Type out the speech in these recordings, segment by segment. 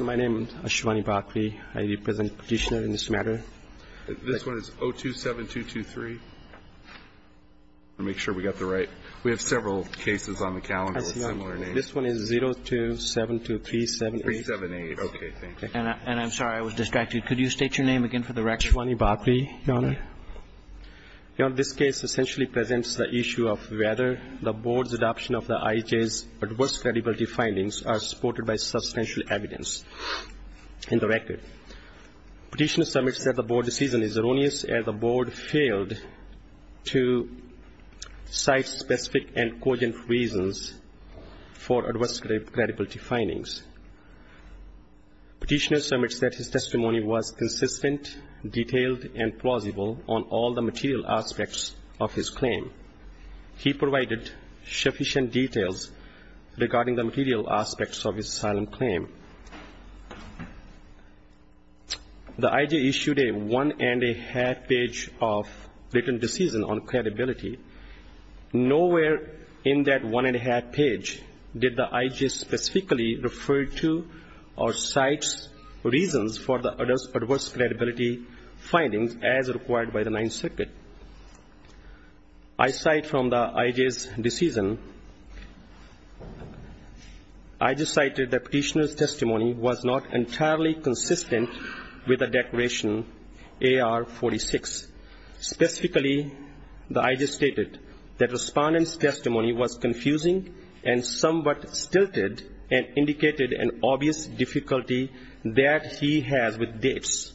My name is Ashwani Bhakri. I represent Petitioner in this matter. This one is 027223. Make sure we got the right. We have several cases on the calendar with similar names. This one is 0272378. Okay, thank you. And I'm sorry I was distracted. Could you state your name again for the record? Ashwani Bhakri, Your Honor. Your Honor, this case essentially presents the issue of whether the board's adoption of the IHA's adverse credibility findings are supported by substantial evidence in the record. Petitioner submits that the board's decision is erroneous as the board failed to cite specific and cogent reasons for adverse credibility findings. Petitioner submits that his testimony was consistent, detailed, and plausible on all the material aspects of his claim. He provided sufficient details regarding the material aspects of his asylum claim. The IHA issued a one-and-a-half page of written decision on credibility. Nowhere in that one-and-a-half page did the IHA specifically refer to or cite reasons for the adverse credibility findings as required by the Ninth Circuit. Aside from the IHA's decision, IHA cited that Petitioner's testimony was not entirely consistent with the Declaration AR-46. Specifically, the IHA stated that Respondent's testimony was confusing and somewhat stilted and indicated an obvious difficulty that he has with dates.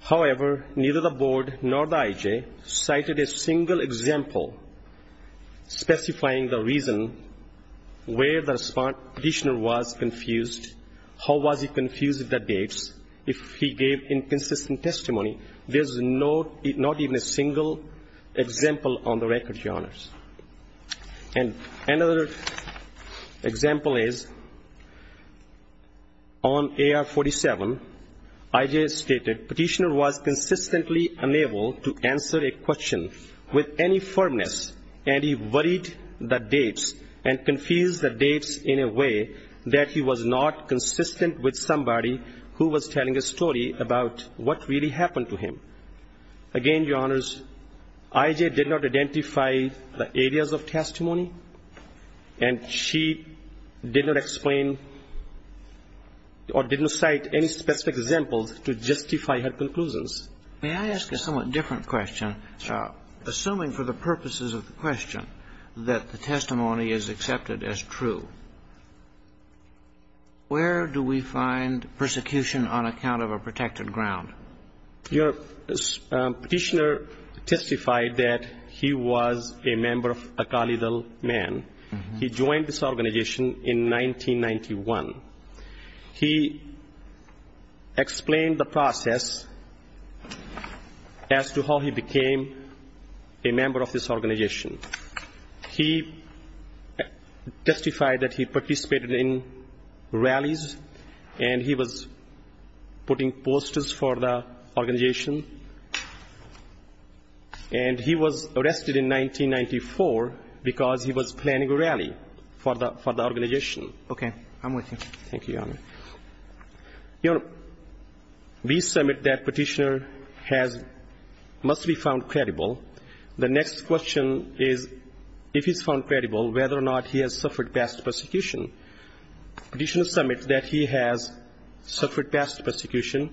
However, neither the board nor the IHA cited a single example specifying the reason where the Petitioner was confused. How was he confused with the dates if he gave inconsistent testimony? There's not even a single example on the record, Your Honors. And another example is on AR-47, IHA stated Petitioner was consistently unable to answer a question with any firmness, and he worried the dates and confused the dates in a way that he was not consistent with somebody who was telling a story about what really happened to him. Again, Your Honors, IHA did not identify the areas of testimony, and she did not explain or didn't cite any specific examples to justify her conclusions. May I ask a somewhat different question? Sure. Assuming for the purposes of the question that the testimony is accepted as true, where do we find persecution on account of a protected ground? Your Petitioner testified that he was a member of Akali Dal Man. He joined this organization in 1991. He explained the process as to how he became a member of this organization. He testified that he participated in rallies, and he was putting posters for the organization. And he was arrested in 1994 because he was planning a rally for the organization. Okay. I'm with you. Thank you, Your Honor. Your Honor, we submit that Petitioner must be found credible. The next question is if he's found credible, whether or not he has suffered past persecution. Petitioner submits that he has suffered past persecution.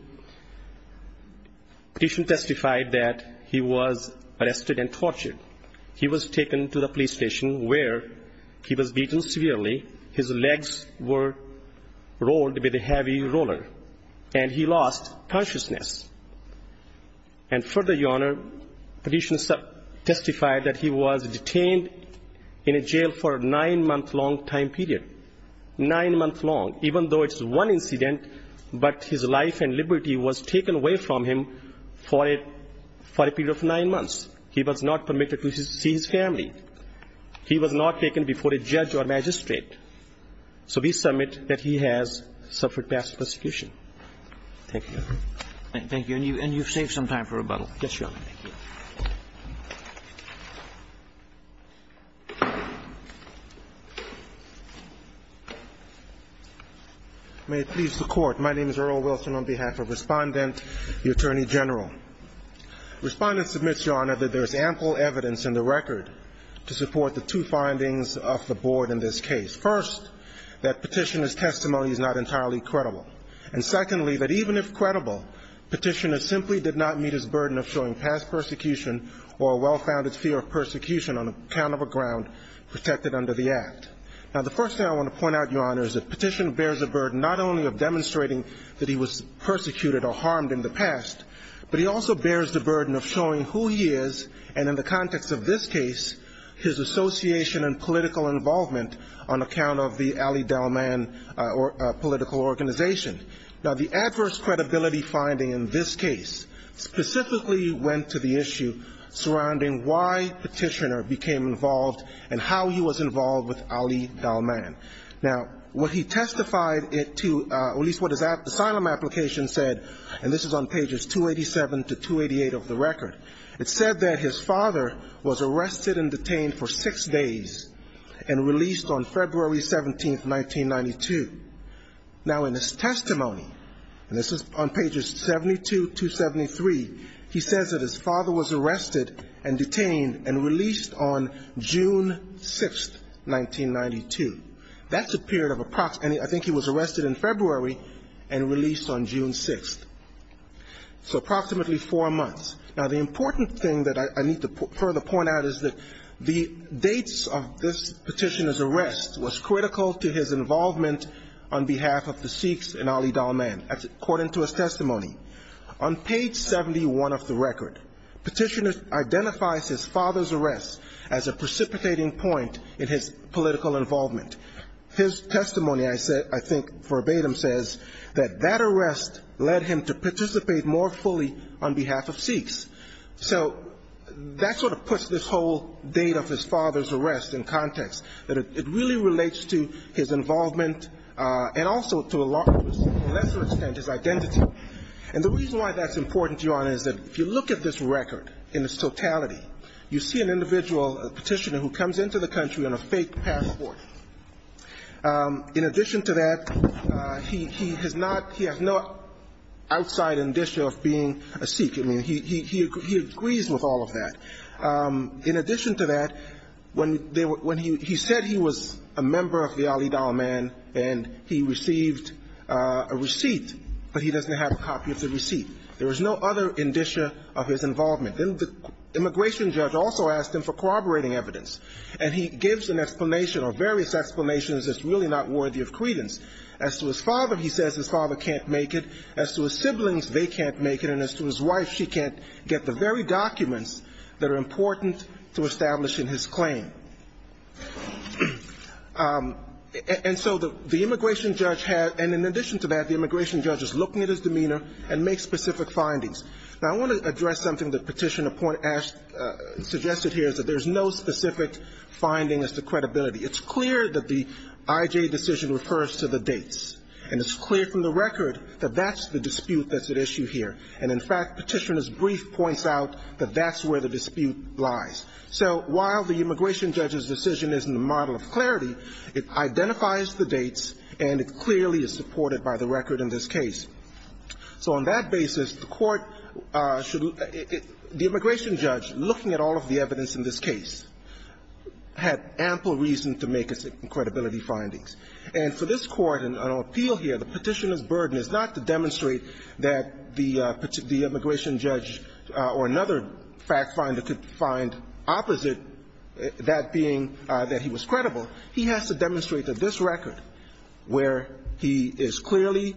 Petitioner testified that he was arrested and tortured. He was taken to the police station where he was beaten severely. His legs were rolled with a heavy roller, and he lost consciousness. And further, Your Honor, Petitioner testified that he was detained in a jail for a nine-month-long time period. Nine months long, even though it's one incident, but his life and liberty was taken away from him for a period of nine months. He was not permitted to see his family. He was not taken before a judge or magistrate. So we submit that he has suffered past persecution. Thank you. Thank you. And you've saved some time for rebuttal. Yes, Your Honor. Thank you. May it please the Court. My name is Earl Wilson on behalf of Respondent, the Attorney General. Respondent submits, Your Honor, that there's ample evidence in the record to support the two findings of the Board in this case. First, that Petitioner's testimony is not entirely credible. And secondly, that even if credible, Petitioner simply did not meet his burden of showing past persecution or a well-founded fear of persecution on account of a ground protected under the Act. Now, the first thing I want to point out, Your Honor, is that Petitioner bears the burden not only of demonstrating that he was persecuted or harmed in the past, but he also bears the burden of showing who he is, and in the context of this case, his association and political involvement on account of the Now, the adverse credibility finding in this case specifically went to the issue surrounding why Petitioner became involved and how he was involved with Ali Dalman. Now, what he testified to, or at least what his asylum application said, and this is on pages 287 to 288 of the record, it said that his father was arrested and detained for six days and released on February 17, 1992. Now, in his testimony, and this is on pages 72 to 73, he says that his father was arrested and detained and released on June 6, 1992. That's a period of approximately, I think he was arrested in February and released on June 6. So approximately four months. Now, the important thing that I need to further point out is that the dates of this Petitioner's arrest was critical to his involvement on behalf of the Sikhs and Ali Dalman, according to his testimony. On page 71 of the record, Petitioner identifies his father's arrest as a precipitating point in his political involvement. His testimony, I think verbatim, says that that arrest led him to participate more fully on behalf of Sikhs. So that sort of puts this whole date of his father's arrest in context, that it really relates to his involvement and also to a lesser extent his identity. And the reason why that's important, Your Honor, is that if you look at this record in its totality, you see an individual, a Petitioner, who comes into the country on a fake passport. In addition to that, he has not – he has no outside indicia of being a Sikh. I mean, he agrees with all of that. In addition to that, when he said he was a member of the Ali Dalman and he received a receipt, but he doesn't have a copy of the receipt. There was no other indicia of his involvement. Then the immigration judge also asked him for corroborating evidence, and he gives an explanation or various explanations that's really not worthy of credence. As to his father, he says his father can't make it. As to his siblings, they can't make it. And as to his wife, she can't get the very documents that are important to establishing his claim. And so the immigration judge had – and in addition to that, the immigration judge is looking at his demeanor and makes specific findings. Now, I want to address something that Petitioner pointed – suggested here, is that there's no specific finding as to credibility. It's clear that the IJ decision refers to the dates. And it's clear from the record that that's the dispute that's at issue here. And in fact, Petitioner's brief points out that that's where the dispute lies. So while the immigration judge's decision isn't a model of clarity, it identifies the dates and it clearly is supported by the record in this case. So on that basis, the Court should – the immigration judge, looking at all of the evidence in this case, had ample reason to make its credibility findings. And so this Court, in our appeal here, the Petitioner's burden is not to demonstrate that the immigration judge or another fact finder could find opposite, that being that he was credible. He has to demonstrate that this record, where he is clearly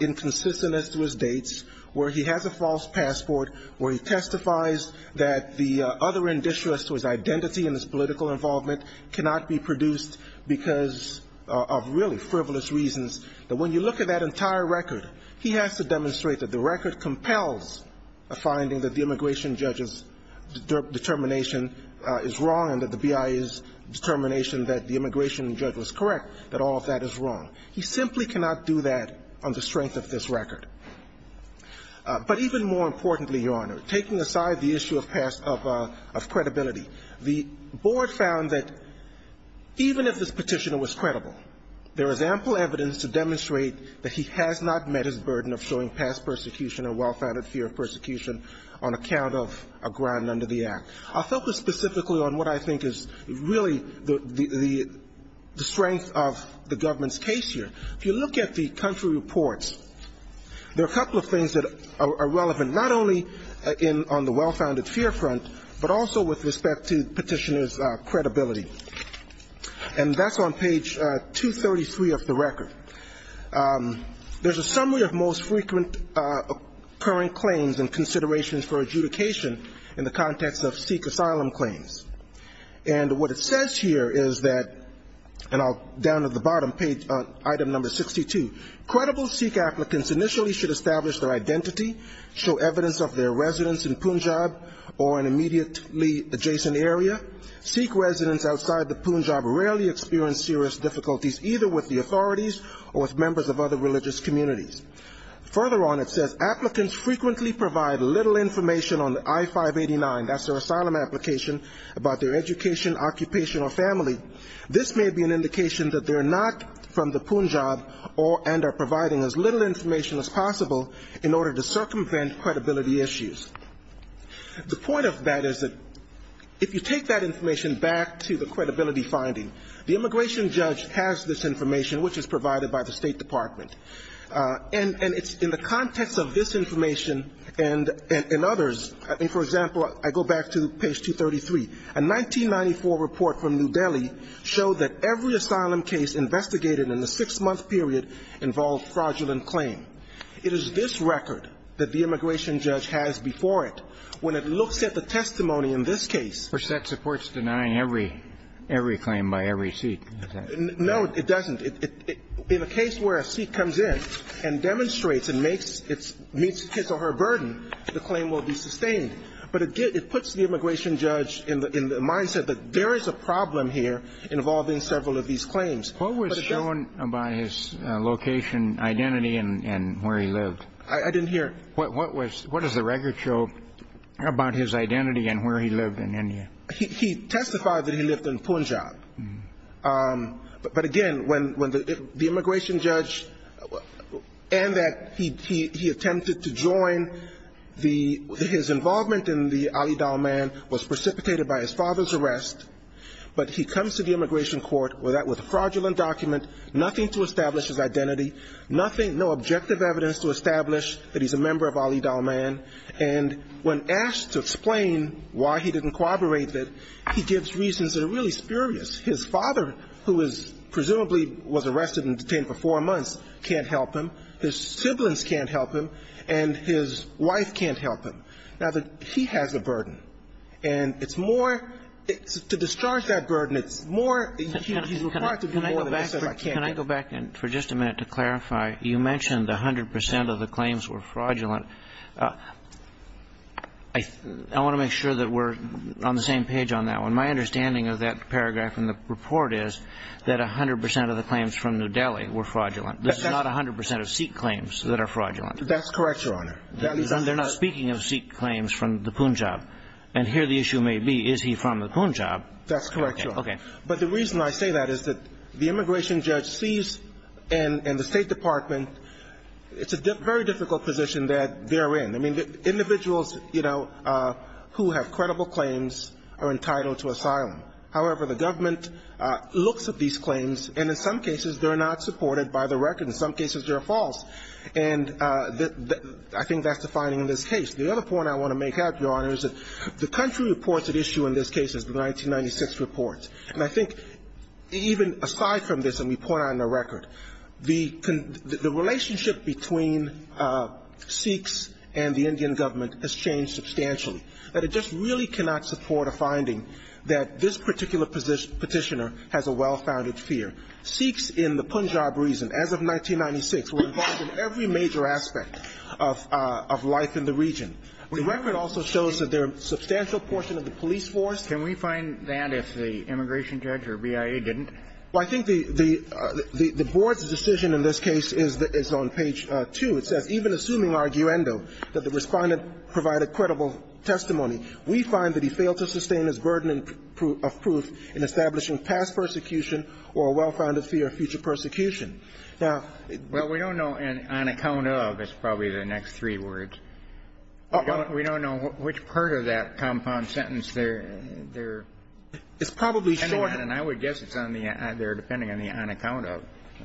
inconsistent as to his dates, where he has a false passport, where he testifies that the other inditious to his identity and his political involvement cannot be produced because of really frivolous reasons, that when you look at that entire record, he has to demonstrate that the record compels a finding that the immigration judge's determination is wrong and that the BIA's determination that the immigration judge was correct, that all of that is wrong. He simply cannot do that on the strength of this record. But even more importantly, Your Honor, taking aside the issue of credibility, the Board found that even if this Petitioner was credible, there is ample evidence to demonstrate that he has not met his burden of showing past persecution or well-founded fear of persecution on account of a grind under the Act. I'll focus specifically on what I think is really the strength of the government's case here. If you look at the country reports, there are a couple of things that are relevant, not only on the well-founded fear front, but also with respect to Petitioner's credibility. And that's on page 233 of the record. There's a summary of most frequent current claims and considerations for adjudication in the context of Sikh asylum claims. And what it says here is that, and I'll down at the bottom, page item number 62, credible Sikh applicants initially should establish their identity, show evidence of their residence in Punjab or an immediately adjacent area. Sikh residents outside the Punjab rarely experience serious difficulties, either with the authorities or with members of other religious communities. Further on it says, applicants frequently provide little information on the I-589, that's their asylum application, about their education, occupation or family. This may be an indication that they're not from the Punjab and are providing as little information as possible in order to circumvent credibility issues. The point of that is that if you take that information back to the credibility finding, the immigration judge has this information, which is provided by the State Department. And it's in the context of this information and others. I mean, for example, I go back to page 233. A 1994 report from New Delhi showed that every asylum case investigated in the six-month period involved fraudulent claim. It is this record that the immigration judge has before it. When it looks at the testimony in this case. Kennedy. First, that supports denying every claim by every Sikh. Is that right? No, it doesn't. In a case where a Sikh comes in and demonstrates and meets his or her burden, the claim will be sustained. But it puts the immigration judge in the mindset that there is a problem here involving several of these claims. What was shown by his location, identity and where he lived? I didn't hear. What does the record show about his identity and where he lived in India? He testified that he lived in Punjab. But again, when the immigration judge and that he attempted to join the his involvement in the Ali Dalman was precipitated by his father's arrest, but he comes to the immigration court with a fraudulent document, nothing to establish his identity, nothing, no objective evidence to establish that he's a member of Ali Dalman. And when asked to explain why he didn't corroborate it, he gives reasons that are really mysterious. His father, who is presumably was arrested and detained for four months, can't help him. His siblings can't help him. And his wife can't help him. Now, he has a burden. And it's more to discharge that burden, it's more he's required to do more than he says I can't do. Can I go back for just a minute to clarify? You mentioned 100 percent of the claims were fraudulent. I want to make sure that we're on the same page on that one. My understanding of that paragraph in the report is that 100 percent of the claims from New Delhi were fraudulent. This is not 100 percent of Sikh claims that are fraudulent. That's correct, Your Honor. They're not speaking of Sikh claims from the Punjab. And here the issue may be, is he from the Punjab? That's correct, Your Honor. Okay. But the reason I say that is that the immigration judge sees in the State Department it's a very difficult position that they're in. I mean, individuals, you know, who have credible claims are entitled to asylum. However, the government looks at these claims, and in some cases they're not supported by the record. In some cases they're false. And I think that's the finding in this case. The other point I want to make, Your Honor, is that the country reports at issue in this case is the 1996 report. And I think even aside from this, and we point out in the record, the relationship between Sikhs and the Indian government has changed substantially. But it just really cannot support a finding that this particular petitioner has a well-founded fear. Sikhs in the Punjab reason, as of 1996, were involved in every major aspect of life in the region. The record also shows that there's a substantial portion of the police force. Can we find that if the immigration judge or BIA didn't? Well, I think the Board's decision in this case is on page 2. It says, Even assuming arguendo, that the Respondent provided credible testimony, we find that he failed to sustain his burden of proof in establishing past persecution or a well-founded fear of future persecution. Now we don't know on account of. It's probably the next three words. We don't know which part of that compound sentence they're ending on. And I would guess it's either depending on the on account of.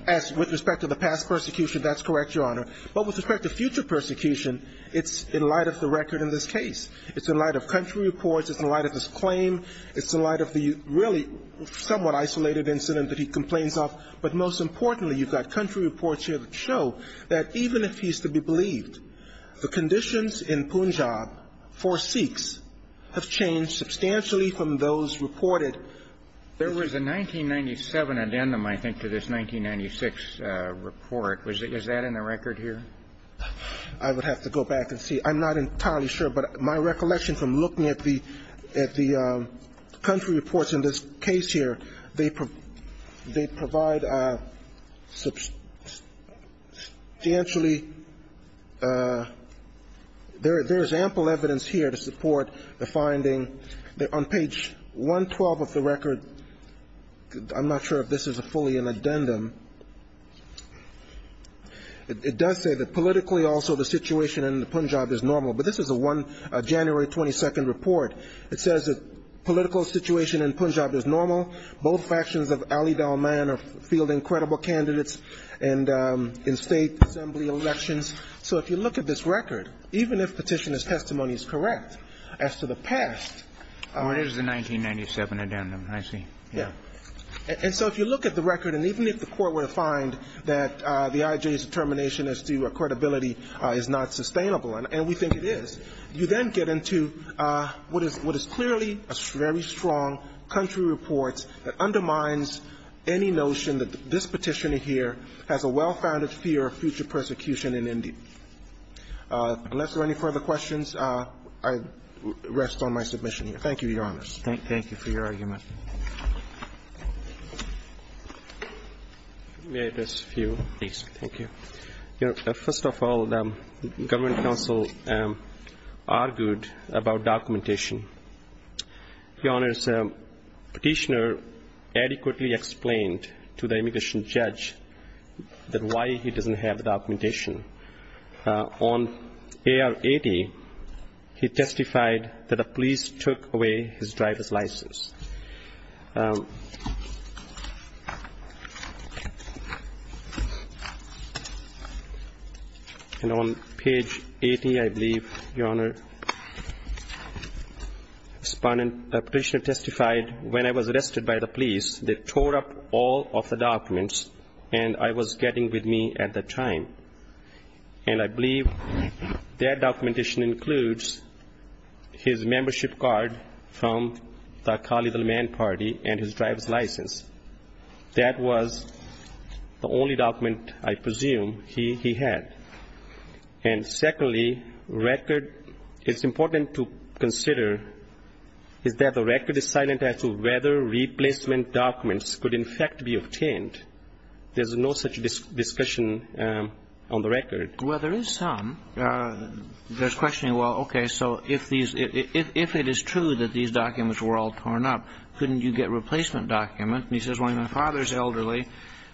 As with respect to the past persecution, that's correct, Your Honor. But with respect to future persecution, it's in light of the record in this case. It's in light of country reports. It's in light of his claim. It's in light of the really somewhat isolated incident that he complains of. But most importantly, you've got country reports here that show that even if he's to be believed, the conditions in Punjab for Sikhs have changed substantially from those reported. There was a 1997 addendum, I think, to this 1996 report. Is that in the record here? I would have to go back and see. I'm not entirely sure. But my recollection from looking at the country reports in this case here, they provide substantially. There is ample evidence here to support the finding. On page 112 of the record, I'm not sure if this is fully an addendum, it does say that politically also the situation in Punjab is normal. But this is a January 22 report. It says that political situation in Punjab is normal. Both factions of Ali Dalman are fielding credible candidates in state assembly elections. So if you look at this record, even if Petitioner's testimony is correct as to the past. Well, it is a 1997 addendum, I see. Yeah. And so if you look at the record, and even if the Court were to find that the IJ's determination as to credibility is not sustainable, and we think it is, you then get to what is clearly a very strong country report that undermines any notion that this Petitioner here has a well-founded fear of future persecution in India. Unless there are any further questions, I rest on my submission here. Thank you, Your Honors. Thank you for your argument. May I address a few? Please. Thank you. First of all, the Government Council argued about documentation. Your Honors, Petitioner adequately explained to the immigration judge that why he doesn't have the documentation. On AR-80, he testified that the police took away his driver's license. And on page 80, I believe, Your Honor, the Petitioner testified, when I was arrested by the police, they tore up all of the documents, and I was getting with me at the time. And I believe that documentation includes his membership card from the Khalil-ul-Man party and his driver's license. That was the only document, I presume, he had. And secondly, record, it's important to consider, is that the record is silent as to whether replacement documents could in fact be obtained. There's no such discussion on the record. Well, there is some. There's questioning, well, okay, so if it is true that these documents were all torn up, couldn't you get replacement documents? And he says, well, my father's elderly,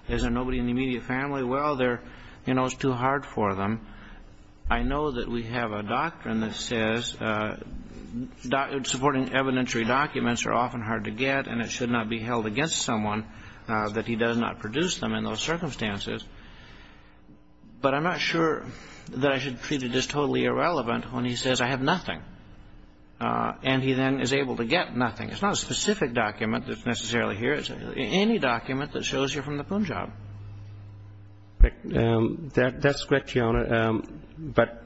there's nobody in the immediate family. Well, they're, you know, it's too hard for them. I know that we have a doctrine that says supporting evidentiary documents are often hard to get, and it should not be held against someone that he does not produce them in those circumstances. But I'm not sure that I should treat it as totally irrelevant when he says I have nothing. And he then is able to get nothing. It's not a specific document that's necessarily here. It's any document that shows you're from the Punjab. That's correct, Your Honor. But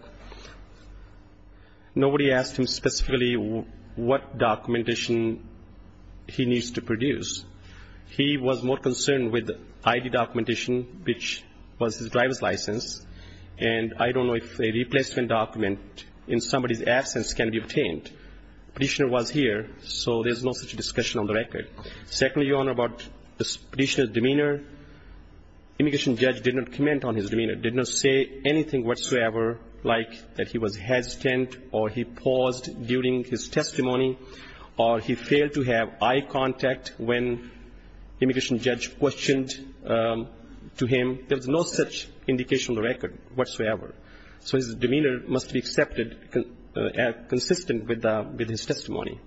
nobody asked him specifically what documentation he needs to produce. He was more concerned with ID documentation, which was his driver's license, and I don't know if a replacement document in somebody's absence can be obtained. The petitioner was here, so there's no such discussion on the record. Secondly, Your Honor, about this petitioner's demeanor, immigration judge did not comment on his demeanor, did not say anything whatsoever like that he was hesitant or he paused during his testimony or he failed to have eye contact when immigration judge questioned to him. There was no such indication on the record whatsoever. So his demeanor must be accepted and consistent with his testimony.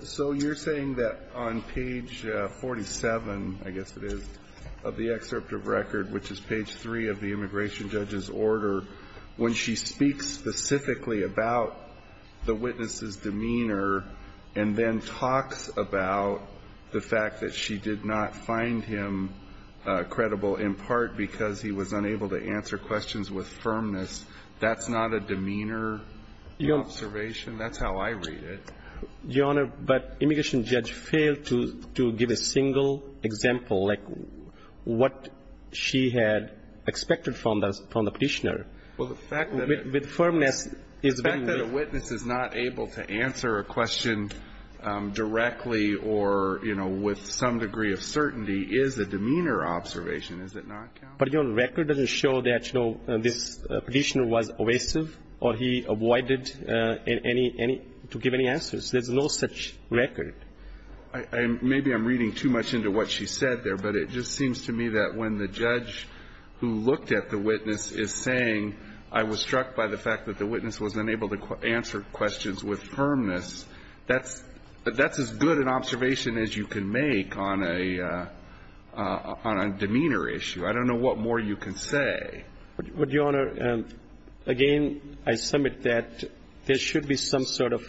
So you're saying that on page 47, I guess it is, of the excerpt of record, which is page 3 of the immigration judge's order, when she speaks specifically about the witness's demeanor and then talks about the fact that she did not find him credible, in part because he was unable to answer questions with firmness, that's not a demeanor observation? That's how I read it. Your Honor, but immigration judge failed to give a single example, like what she had expected from the petitioner. Well, the fact that a witness is not able to answer a question directly or, you know, with some degree of certainty is a demeanor observation, is it not? But your record doesn't show that, you know, this petitioner was evasive or he avoided any to give any answers. There's no such record. Maybe I'm reading too much into what she said there, but it just seems to me that when the judge who looked at the witness is saying I was struck by the fact that the witness was unable to answer questions with firmness, that's as good an observation as you can make on a demeanor issue. I don't know what more you can say. But, Your Honor, again, I submit that there should be some sort of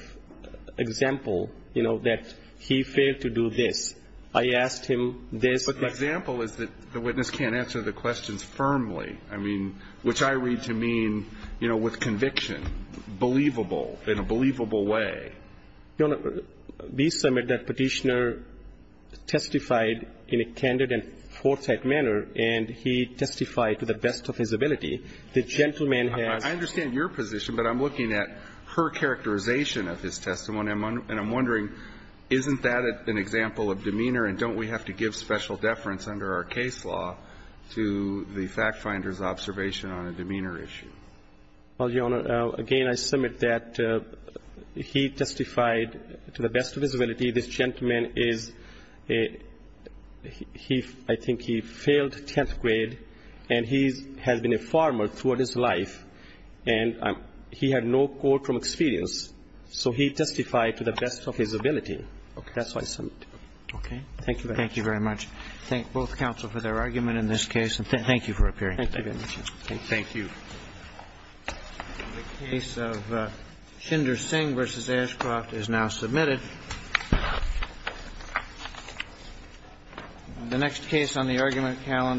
example, you know, that he failed to do this. I asked him this. But the example is that the witness can't answer the questions firmly, I mean, which I read to mean, you know, with conviction, believable, in a believable way. Your Honor, we submit that Petitioner testified in a candid and forthright manner, and he testified to the best of his ability. The gentleman has been. I understand your position, but I'm looking at her characterization of his testimony. And I'm wondering, isn't that an example of demeanor, and don't we have to give special deference under our case law to the fact finder's observation on a demeanor issue? Well, Your Honor, again, I submit that he testified to the best of his ability. This gentleman is a he I think he failed 10th grade, and he has been a farmer throughout his life, and he had no quote from experience. So he testified to the best of his ability. Okay. That's what I submit. Thank you very much. Thank both counsel for their argument in this case. And thank you for appearing. Thank you very much. Thank you. The case of Schindler-Singh v. Ashcroft is now submitted. The next case on the argument calendar.